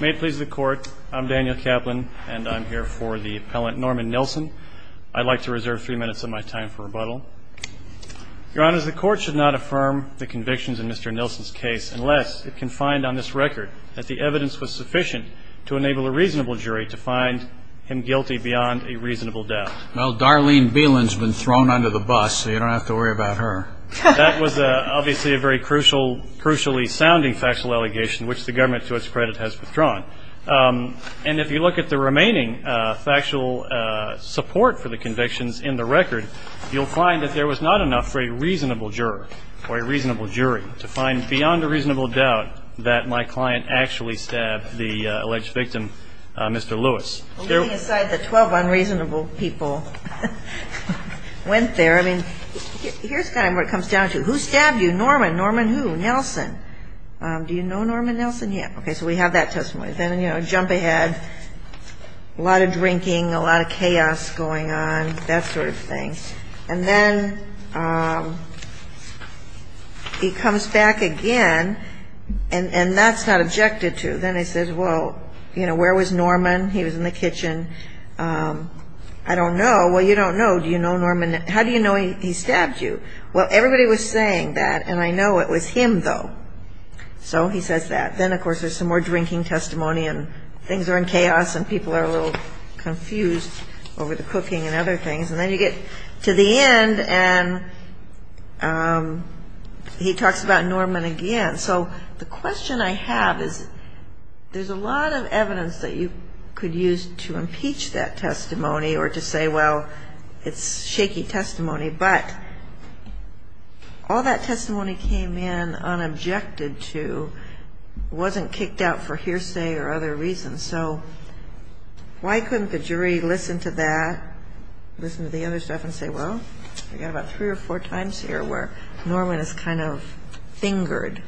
May it please the Court, I'm Daniel Kaplan and I'm here for the appellant Norman Nelson. I'd like to reserve three minutes of my time for rebuttal. Your Honor, the Court should not affirm the convictions in Mr. Nelson's case unless it can find on this record that the evidence was sufficient to enable a reasonable jury to find him guilty beyond a reasonable doubt. Well, Darlene Beeland's been thrown under the bus, so you don't have to worry about her. That was obviously a very crucially sounding factual allegation which the government to its credit has withdrawn. And if you look at the remaining factual support for the convictions in the record, you'll find that there was not enough for a reasonable juror or a reasonable jury to find beyond a reasonable doubt that my client actually stabbed the alleged victim, Mr. Lewis. Well, leaving aside the 12 unreasonable people who went there, I mean, here's kind of what it comes down to. Who stabbed you? Norman. Norman who? Nelson. Do you know Norman Nelson? Yeah. Okay, so we have that testimony. Then, you know, jump ahead, a lot of drinking, a lot of chaos going on, that sort of thing. And then he comes back again, and that's not objected to. Then he says, well, you know, where was Norman? He was in the kitchen. I don't know. Well, you don't know. Do you know Norman? How do you know he stabbed you? Well, everybody was saying that, and I know it was him, though. So he says that. Then, of course, there's some more drinking testimony, and things are in chaos, and people are a little confused over the cooking and other things. And then you get to the end, and he talks about Norman again. So the question I have is there's a lot of evidence that you could use to impeach that testimony or to say, well, it's shaky testimony. But all that testimony came in unobjected to, wasn't kicked out for hearsay or other reasons. So why couldn't the jury listen to that, listen to the other stuff, and say, well, We've got about three or four times here where Norman is kind of fingered.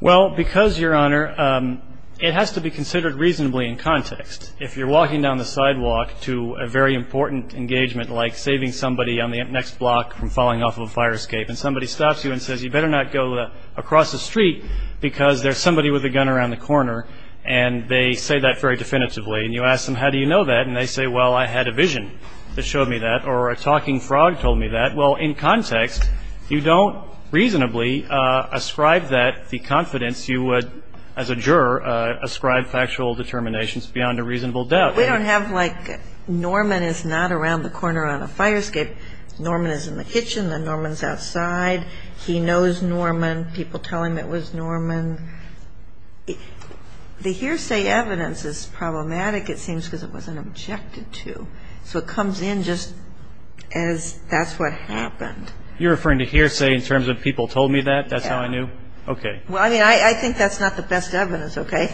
Well, because, Your Honor, it has to be considered reasonably in context. If you're walking down the sidewalk to a very important engagement, like saving somebody on the next block from falling off of a fire escape, and somebody stops you and says, you better not go across the street because there's somebody with a gun around the corner, and they say that very definitively. And you ask them, how do you know that? And they say, well, I had a vision that showed me that, or a talking frog told me that. Well, in context, you don't reasonably ascribe that the confidence you would, as a juror, ascribe factual determinations beyond a reasonable doubt. We don't have, like, Norman is not around the corner on a fire escape. Norman is in the kitchen, and Norman's outside. He knows Norman. People tell him it was Norman. The hearsay evidence is problematic, it seems, because it wasn't objected to. So it comes in just as that's what happened. You're referring to hearsay in terms of people told me that, that's how I knew? Yeah. Okay. Well, I mean, I think that's not the best evidence, okay?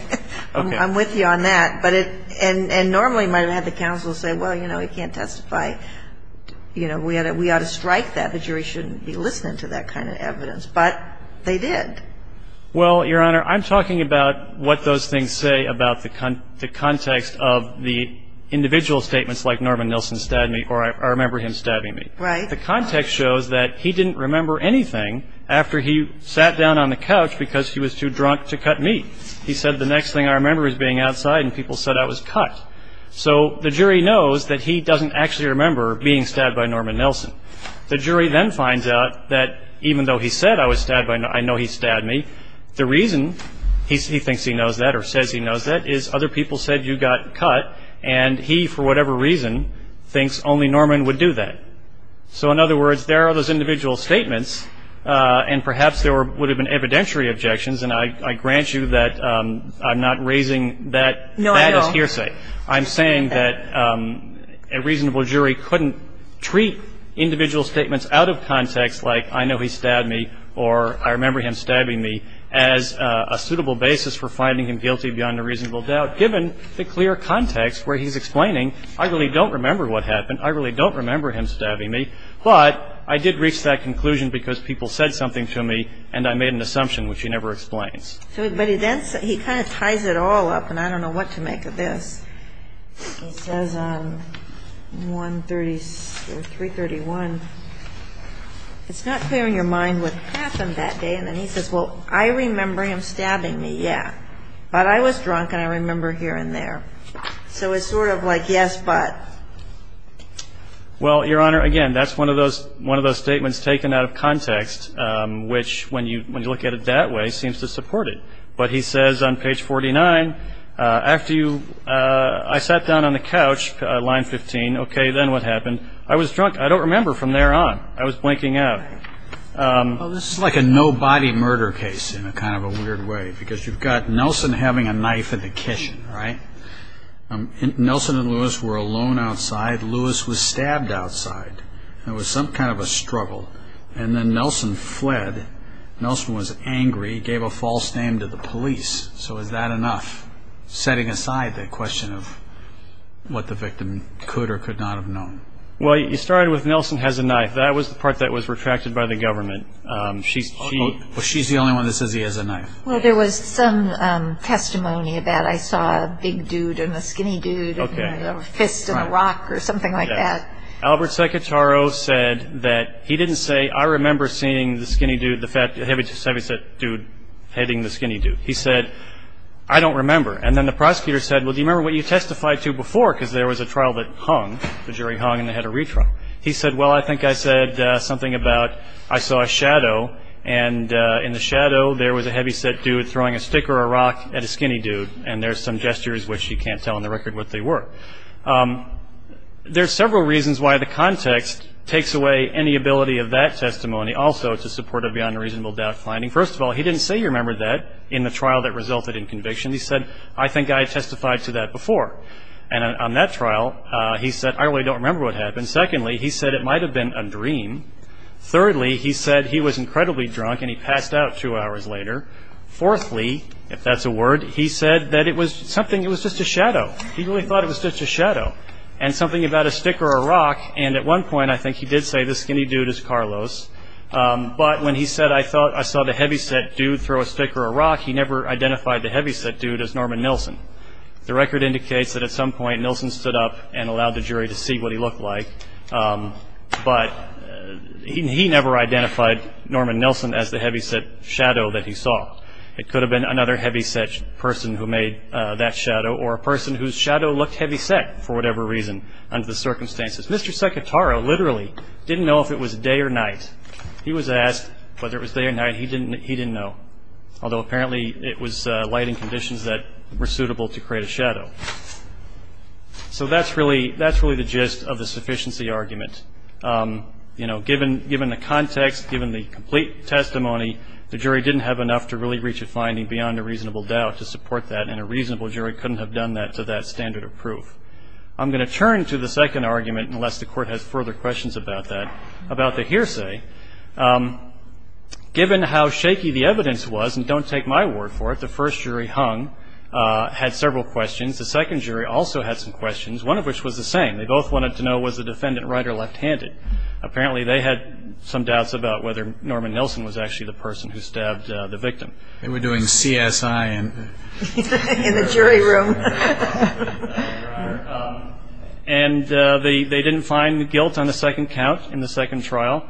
Okay. I'm with you on that. And normally you might have had the counsel say, well, you know, he can't testify. You know, we ought to strike that. The jury shouldn't be listening to that kind of evidence. But they did. Well, Your Honor, I'm talking about what those things say about the context of the individual statements like Norman Nilsen stabbed me or I remember him stabbing me. Right. The context shows that he didn't remember anything after he sat down on the couch because he was too drunk to cut me. He said the next thing I remember is being outside and people said I was cut. So the jury knows that he doesn't actually remember being stabbed by Norman Nilsen. The jury then finds out that even though he said I was stabbed by Norman, I know he stabbed me. The reason he thinks he knows that or says he knows that is other people said you got cut and he, for whatever reason, thinks only Norman would do that. So, in other words, there are those individual statements and perhaps there would have been evidentiary objections, and I grant you that I'm not raising that as hearsay. No, I am. I'm saying that a reasonable jury couldn't treat individual statements out of context like I know he stabbed me or I remember him stabbing me as a suitable basis for finding him guilty beyond a reasonable doubt, given the clear context where he's explaining I really don't remember what happened, I really don't remember him stabbing me, but I did reach that conclusion because people said something to me and I made an assumption, which he never explains. He kind of ties it all up, and I don't know what to make of this. He says on 131, it's not clear in your mind what happened that day, and then he says, well, I remember him stabbing me, yeah, but I was drunk and I remember here and there. So it's sort of like yes, but. Well, Your Honor, again, that's one of those statements taken out of context, which when you look at it that way, seems to support it. But he says on page 49, after I sat down on the couch, line 15, okay, then what happened? I was drunk. I don't remember from there on. I was blinking out. Well, this is like a no-body murder case in kind of a weird way because you've got Nelson having a knife in the kitchen, right? Nelson and Lewis were alone outside. Lewis was stabbed outside. It was some kind of a struggle. And then Nelson fled. Nelson was angry. He gave a false name to the police. So is that enough, setting aside the question of what the victim could or could not have known? Well, you started with Nelson has a knife. That was the part that was retracted by the government. She's the only one that says he has a knife. Well, there was some testimony that I saw a big dude and a skinny dude and a fist and a rock or something like that. Albert Secretaro said that he didn't say, I remember seeing the skinny dude, the heavy set dude hitting the skinny dude. He said, I don't remember. And then the prosecutor said, well, do you remember what you testified to before? Because there was a trial that hung. The jury hung and they had a retrial. He said, well, I think I said something about I saw a shadow, and in the shadow there was a heavy set dude throwing a stick or a rock at a skinny dude. And there's some gestures which you can't tell on the record what they were. There are several reasons why the context takes away any ability of that testimony also to support a beyond reasonable doubt finding. First of all, he didn't say he remembered that in the trial that resulted in conviction. He said, I think I testified to that before. And on that trial, he said, I really don't remember what happened. Secondly, he said it might have been a dream. Thirdly, he said he was incredibly drunk and he passed out two hours later. Fourthly, if that's a word, he said that it was something, it was just a shadow. He really thought it was just a shadow. And something about a stick or a rock, and at one point I think he did say this skinny dude is Carlos. But when he said I saw the heavy set dude throw a stick or a rock, he never identified the heavy set dude as Norman Nilsen. The record indicates that at some point Nilsen stood up and allowed the jury to see what he looked like, but he never identified Norman Nilsen as the heavy set shadow that he saw. It could have been another heavy set person who made that shadow or a person whose shadow looked heavy set for whatever reason under the circumstances. Mr. Secattaro literally didn't know if it was day or night. He was asked whether it was day or night. He didn't know, although apparently it was lighting conditions that were suitable to create a shadow. So that's really the gist of the sufficiency argument. You know, given the context, given the complete testimony, the jury didn't have enough to really reach a finding beyond a reasonable doubt to support that, and a reasonable jury couldn't have done that to that standard of proof. I'm going to turn to the second argument, unless the Court has further questions about that, about the hearsay. Given how shaky the evidence was, and don't take my word for it, the first jury hung, had several questions. The second jury also had some questions, one of which was the same. They both wanted to know was the defendant right or left-handed. Apparently they had some doubts about whether Norman Nelson was actually the person who stabbed the victim. They were doing CSI in the jury room. And they didn't find guilt on the second count in the second trial,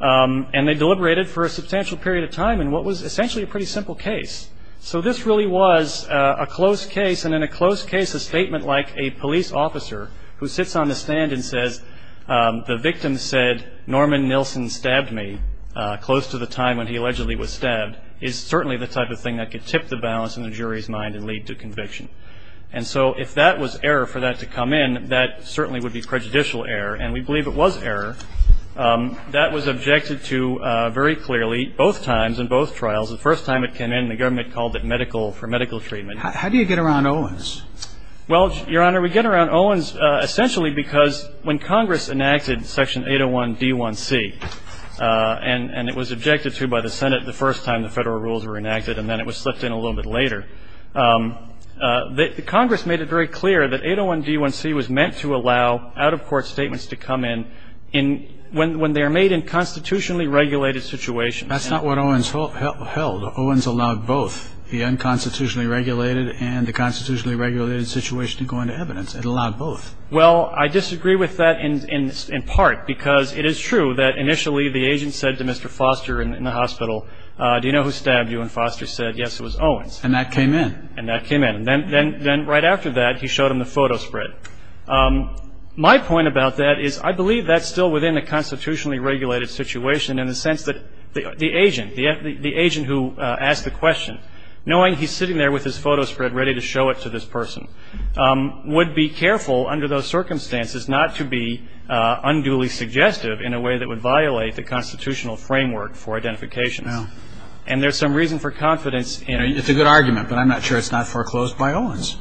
and they deliberated for a substantial period of time in what was essentially a pretty simple case. So this really was a closed case, and in a closed case, it's a statement like a police officer who sits on the stand and says, the victim said Norman Nelson stabbed me close to the time when he allegedly was stabbed, is certainly the type of thing that could tip the balance in the jury's mind and lead to conviction. And so if that was error for that to come in, that certainly would be prejudicial error, and we believe it was error. That was objected to very clearly both times in both trials. The first time it came in, the government called it medical for medical treatment. How do you get around Owens? Well, Your Honor, we get around Owens essentially because when Congress enacted Section 801D1C, and it was objected to by the Senate the first time the Federal rules were enacted, and then it was slipped in a little bit later, Congress made it very clear that 801D1C was meant to allow out-of-court statements to come in when they are made in constitutionally regulated situations. That's not what Owens held. Owens allowed both. The unconstitutionally regulated and the constitutionally regulated situation to go into evidence. It allowed both. Well, I disagree with that in part because it is true that initially the agent said to Mr. Foster in the hospital, do you know who stabbed you? And Foster said, yes, it was Owens. And that came in. And that came in. Then right after that he showed him the photo spread. My point about that is I believe that's still within a constitutionally regulated situation in the sense that the agent, the agent who asked the question, knowing he's sitting there with his photo spread ready to show it to this person, would be careful under those circumstances not to be unduly suggestive in a way that would violate the constitutional framework for identification. And there's some reason for confidence in it. It's a good argument, but I'm not sure it's not foreclosed by Owens.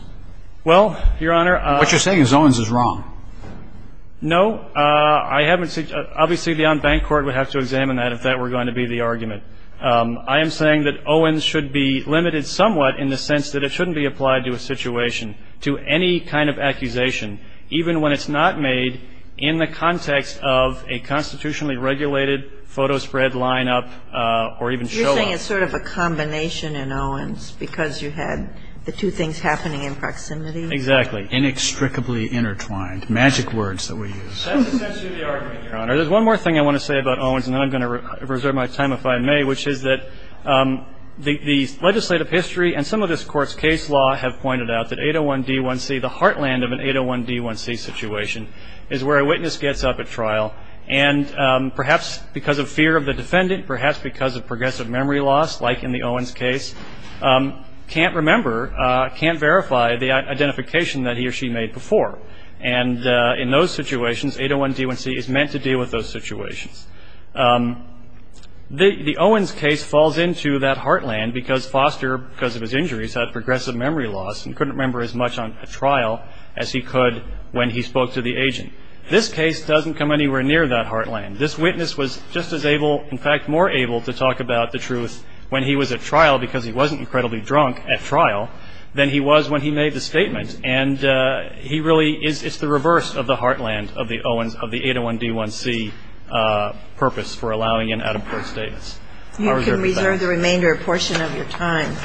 Well, Your Honor. What you're saying is Owens is wrong. No. Obviously the on-bank court would have to examine that if that were going to be the argument. I am saying that Owens should be limited somewhat in the sense that it shouldn't be applied to a situation, to any kind of accusation, even when it's not made in the context of a constitutionally regulated photo spread line up or even show up. You're saying it's sort of a combination in Owens because you had the two things happening in proximity? Exactly. Inextricably intertwined. Magic words that we use. That's essentially the argument, Your Honor. There's one more thing I want to say about Owens, and then I'm going to reserve my time if I may, which is that the legislative history and some of this Court's case law have pointed out that 801D1C, the heartland of an 801D1C situation, is where a witness gets up at trial, and perhaps because of fear of the defendant, perhaps because of progressive memory loss, like in the Owens case, can't remember, can't verify the identification that he or she made before. And in those situations, 801D1C is meant to deal with those situations. The Owens case falls into that heartland because Foster, because of his injuries, had progressive memory loss and couldn't remember as much on a trial as he could when he spoke to the agent. This case doesn't come anywhere near that heartland. This witness was just as able, in fact, more able to talk about the truth when he was at trial because he wasn't incredibly drunk at trial than he was when he made the statement. And he really is the reverse of the heartland of the Owens, of the 801D1C purpose for allowing an out-of-court status. You can reserve the remainder portion of your time.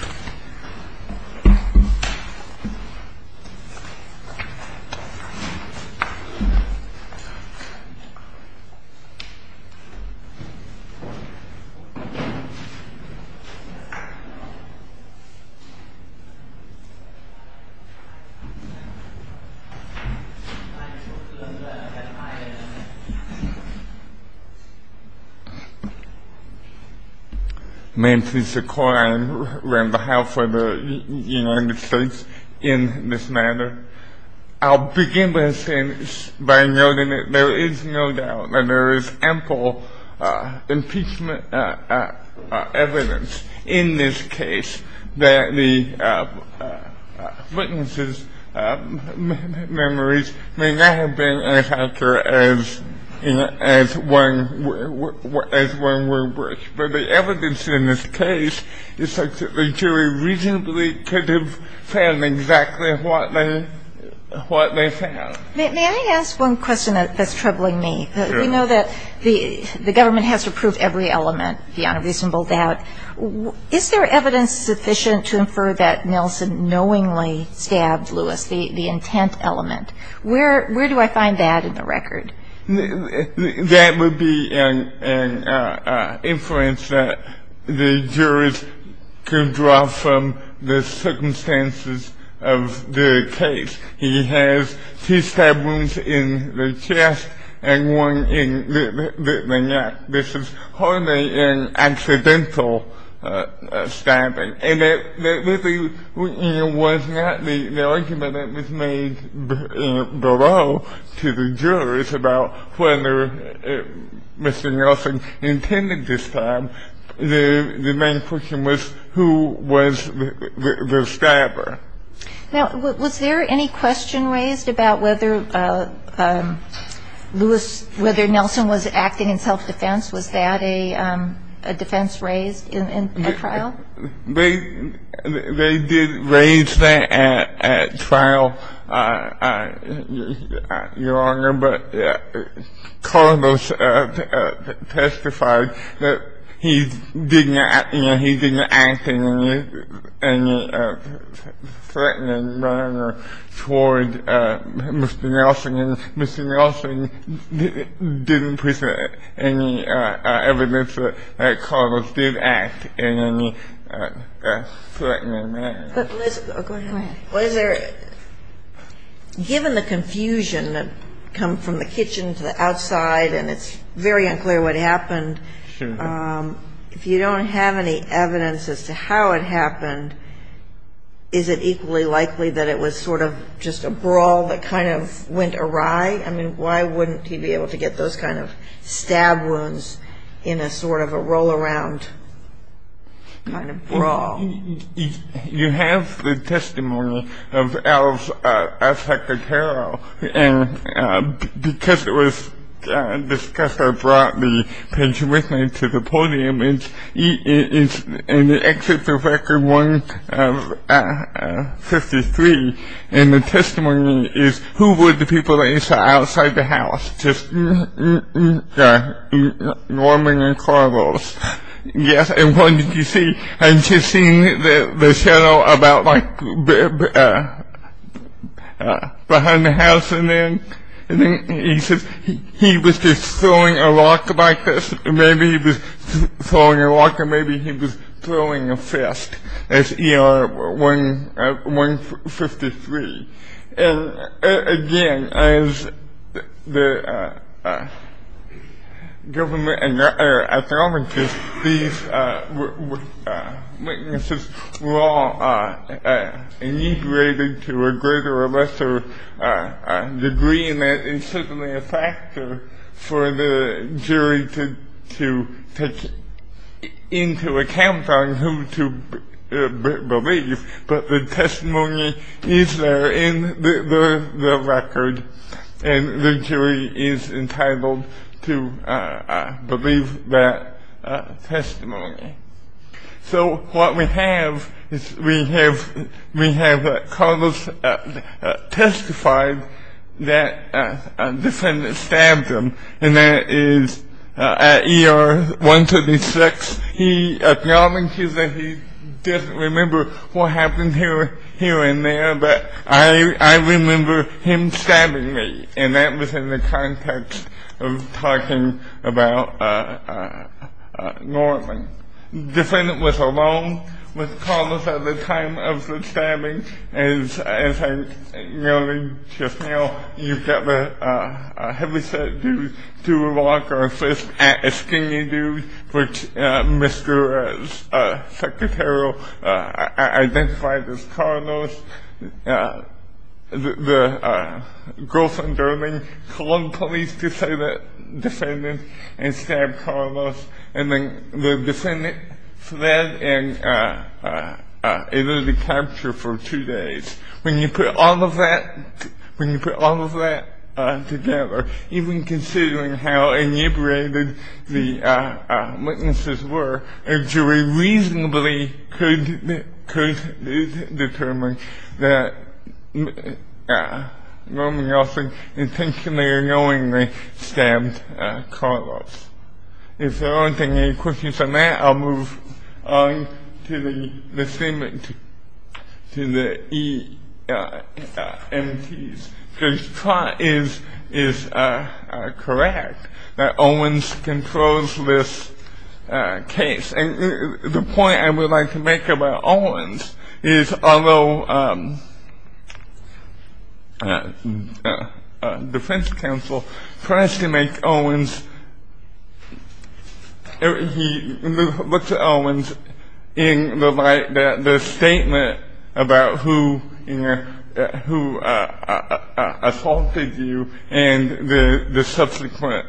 May I please record on behalf of the United States in this matter. I'll begin by noting that there is no doubt that there is ample impeachment evidence in this case that the witness's memories may not have been as accurate as one would wish. But the evidence in this case is such that the jury reasonably could have found exactly what they found. May I ask one question that's troubling me? Sure. We know that the government has to prove every element beyond a reasonable doubt. Is there evidence sufficient to infer that Nelson knowingly stabbed Lewis, the intent element? Where do I find that in the record? That would be an inference that the jurors could draw from the circumstances of the case. He has two stab wounds in the chest and one in the neck. This is hardly an accidental stabbing. And that really was not the argument that was made below to the jurors about whether Mr. Nelson intended to stab. The main question was who was the stabber. Now, was there any question raised about whether Lewis, whether Nelson was acting in self-defense? Was that a defense raised in a trial? They did raise that at trial, Your Honor. But Carlos testified that he didn't act in any threatening manner toward Mr. Nelson. And Mr. Nelson didn't present any evidence that Carlos did act in any threatening manner. But, Liz, go ahead. Go ahead. Was there, given the confusion that come from the kitchen to the outside and it's very unclear what happened, if you don't have any evidence as to how it happened, is it equally likely that it was sort of just a brawl that kind of went awry? I mean, why wouldn't he be able to get those kind of stab wounds in a sort of a roll-around kind of brawl? You have the testimony of Al Sacatero. Because it was discussed, I brought the pensioner with me to the podium. And it exceeds the record 1 of 53. And the testimony is who were the people that you saw outside the house? Just Norman and Carlos. Yes. And what did you see? I just seen the shadow about like behind the house. And then he says he was just throwing a rock like this. Maybe he was throwing a rock or maybe he was throwing a fist. That's ER 153. And again, as the government and other ethnologists, these witnesses were all inebriated to a greater or lesser degree. And that is certainly a factor for the jury to take into account on who to believe. But the testimony is there in the record. And the jury is entitled to believe that testimony. So what we have is we have Carlos testified that a defendant stabbed him. And that is at ER 156. He acknowledges that he doesn't remember what happened here and there, but I remember him stabbing me. And that was in the context of talking about Norman. The defendant was alone with Carlos at the time of the stabbing. And as I noted just now, you've got a heavy set dude to a rock or a fist, a skinny dude, which Mr. Secretary identified as Carlos. The girls from Durham called the police to say that the defendant had stabbed Carlos. And then the defendant fled and was able to be captured for two days. When you put all of that together, even considering how inebriated the witnesses were, a jury reasonably could determine that Norman Yeltsin intentionally or knowingly stabbed Carlos. If there aren't any questions on that, I'll move on to the EMTs. Because Trott is correct that Owens controls this case. And the point I would like to make about Owens is although Defense Counsel tries to make Owens, he looks at Owens in the light that the statement about who assaulted you and the subsequent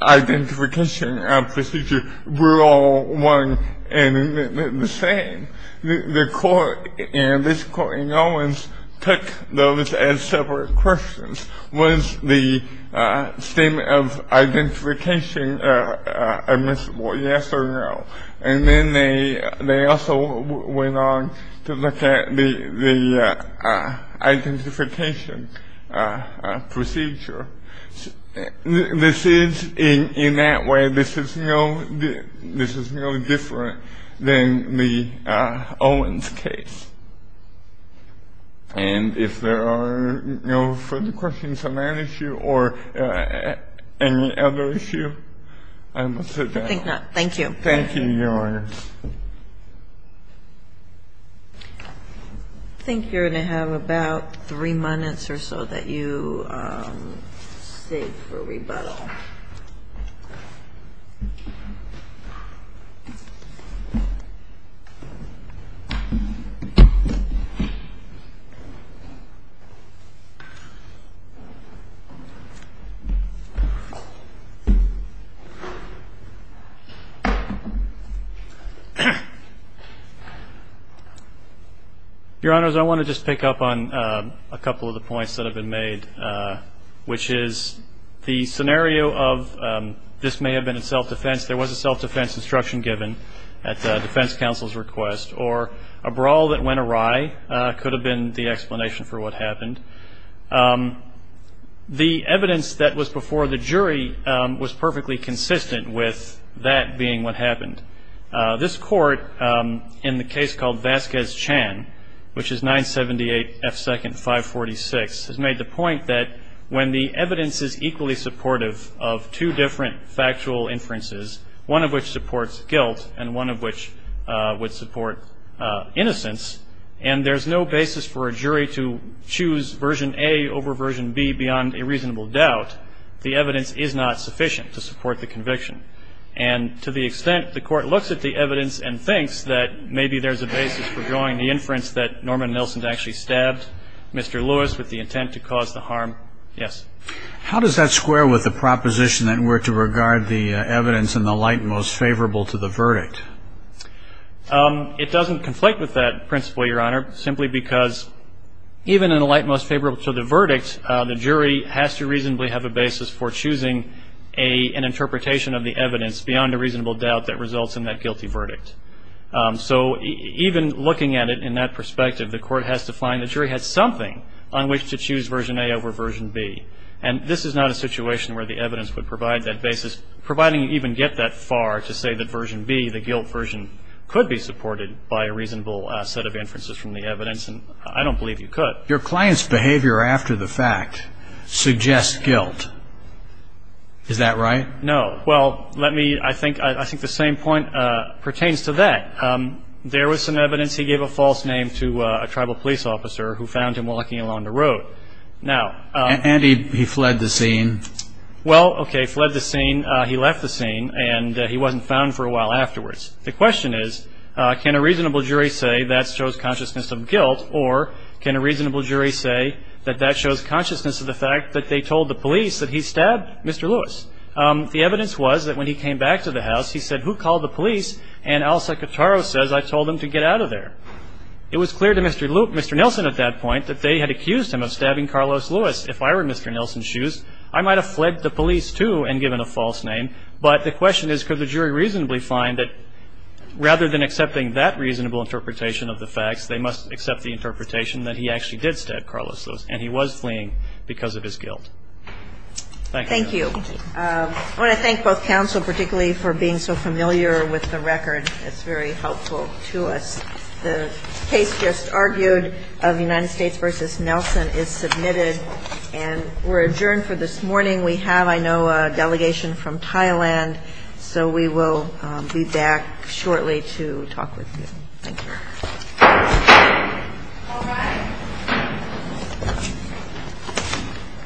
identification procedure were all one and the same. The court in this court in Owens took those as separate questions. Was the statement of identification admissible, yes or no? And then they also went on to look at the identification procedure. This is, in that way, this is no different than the Owens case. And if there are no further questions on that issue or any other issue, I will sit down. Thank you. Thank you, Your Honor. I think you're going to have about three minutes or so that you save for rebuttal. Your Honors, I want to just pick up on a couple of the points that have been made, which is the scenario of this may have been in self-defense. There was a self-defense instruction given at the Defense Counsel's request. Or a brawl that went awry could have been the explanation for what happened. The evidence that was before the jury was perfectly consistent with that being what happened. This Court, in the case called Vasquez-Chan, which is 978 F. 2nd 546, has made the point that when the evidence is equally supportive of two different factual inferences, one of which supports guilt and one of which would support innocence, and there's no basis for a jury to choose version A over version B beyond a reasonable doubt, the evidence is not sufficient to support the conviction. And to the extent the Court looks at the evidence and thinks that maybe there's a basis for drawing the inference that Norman Nilsen actually stabbed Mr. Lewis with the intent to cause the harm, yes. How does that square with the proposition that we're to regard the evidence in the light most favorable to the verdict? It doesn't conflict with that principle, Your Honor, simply because even in the light most favorable to the verdict, the jury has to reasonably have a basis for choosing an interpretation of the evidence beyond a reasonable doubt that results in that guilty verdict. So even looking at it in that perspective, the Court has to find the jury has something on which to choose version A over version B. And this is not a situation where the evidence would provide that basis, providing you even get that far to say that version B, the guilt version, could be supported by a reasonable set of inferences from the evidence, and I don't believe you could. But your client's behavior after the fact suggests guilt. Is that right? No. Well, let me, I think the same point pertains to that. There was some evidence he gave a false name to a tribal police officer who found him walking along the road. And he fled the scene. Well, okay, fled the scene, he left the scene, and he wasn't found for a while afterwards. The question is, can a reasonable jury say that shows consciousness of guilt or can a reasonable jury say that that shows consciousness of the fact that they told the police that he stabbed Mr. Lewis? The evidence was that when he came back to the house, he said, who called the police and Al Secattaro says I told them to get out of there. It was clear to Mr. Nelson at that point that they had accused him of stabbing Carlos Lewis. If I were Mr. Nelson's shoes, I might have fled the police too and given a false name. But the question is, could the jury reasonably find that rather than accepting that reasonable interpretation of the facts, they must accept the interpretation that he actually did stab Carlos Lewis and he was fleeing because of his guilt? Thank you. Thank you. I want to thank both counsel particularly for being so familiar with the record. It's very helpful to us. The case just argued of United States v. Nelson is submitted and we're adjourned for this morning. We have, I know, a delegation from Thailand, so we will be back shortly to talk with you. Thank you.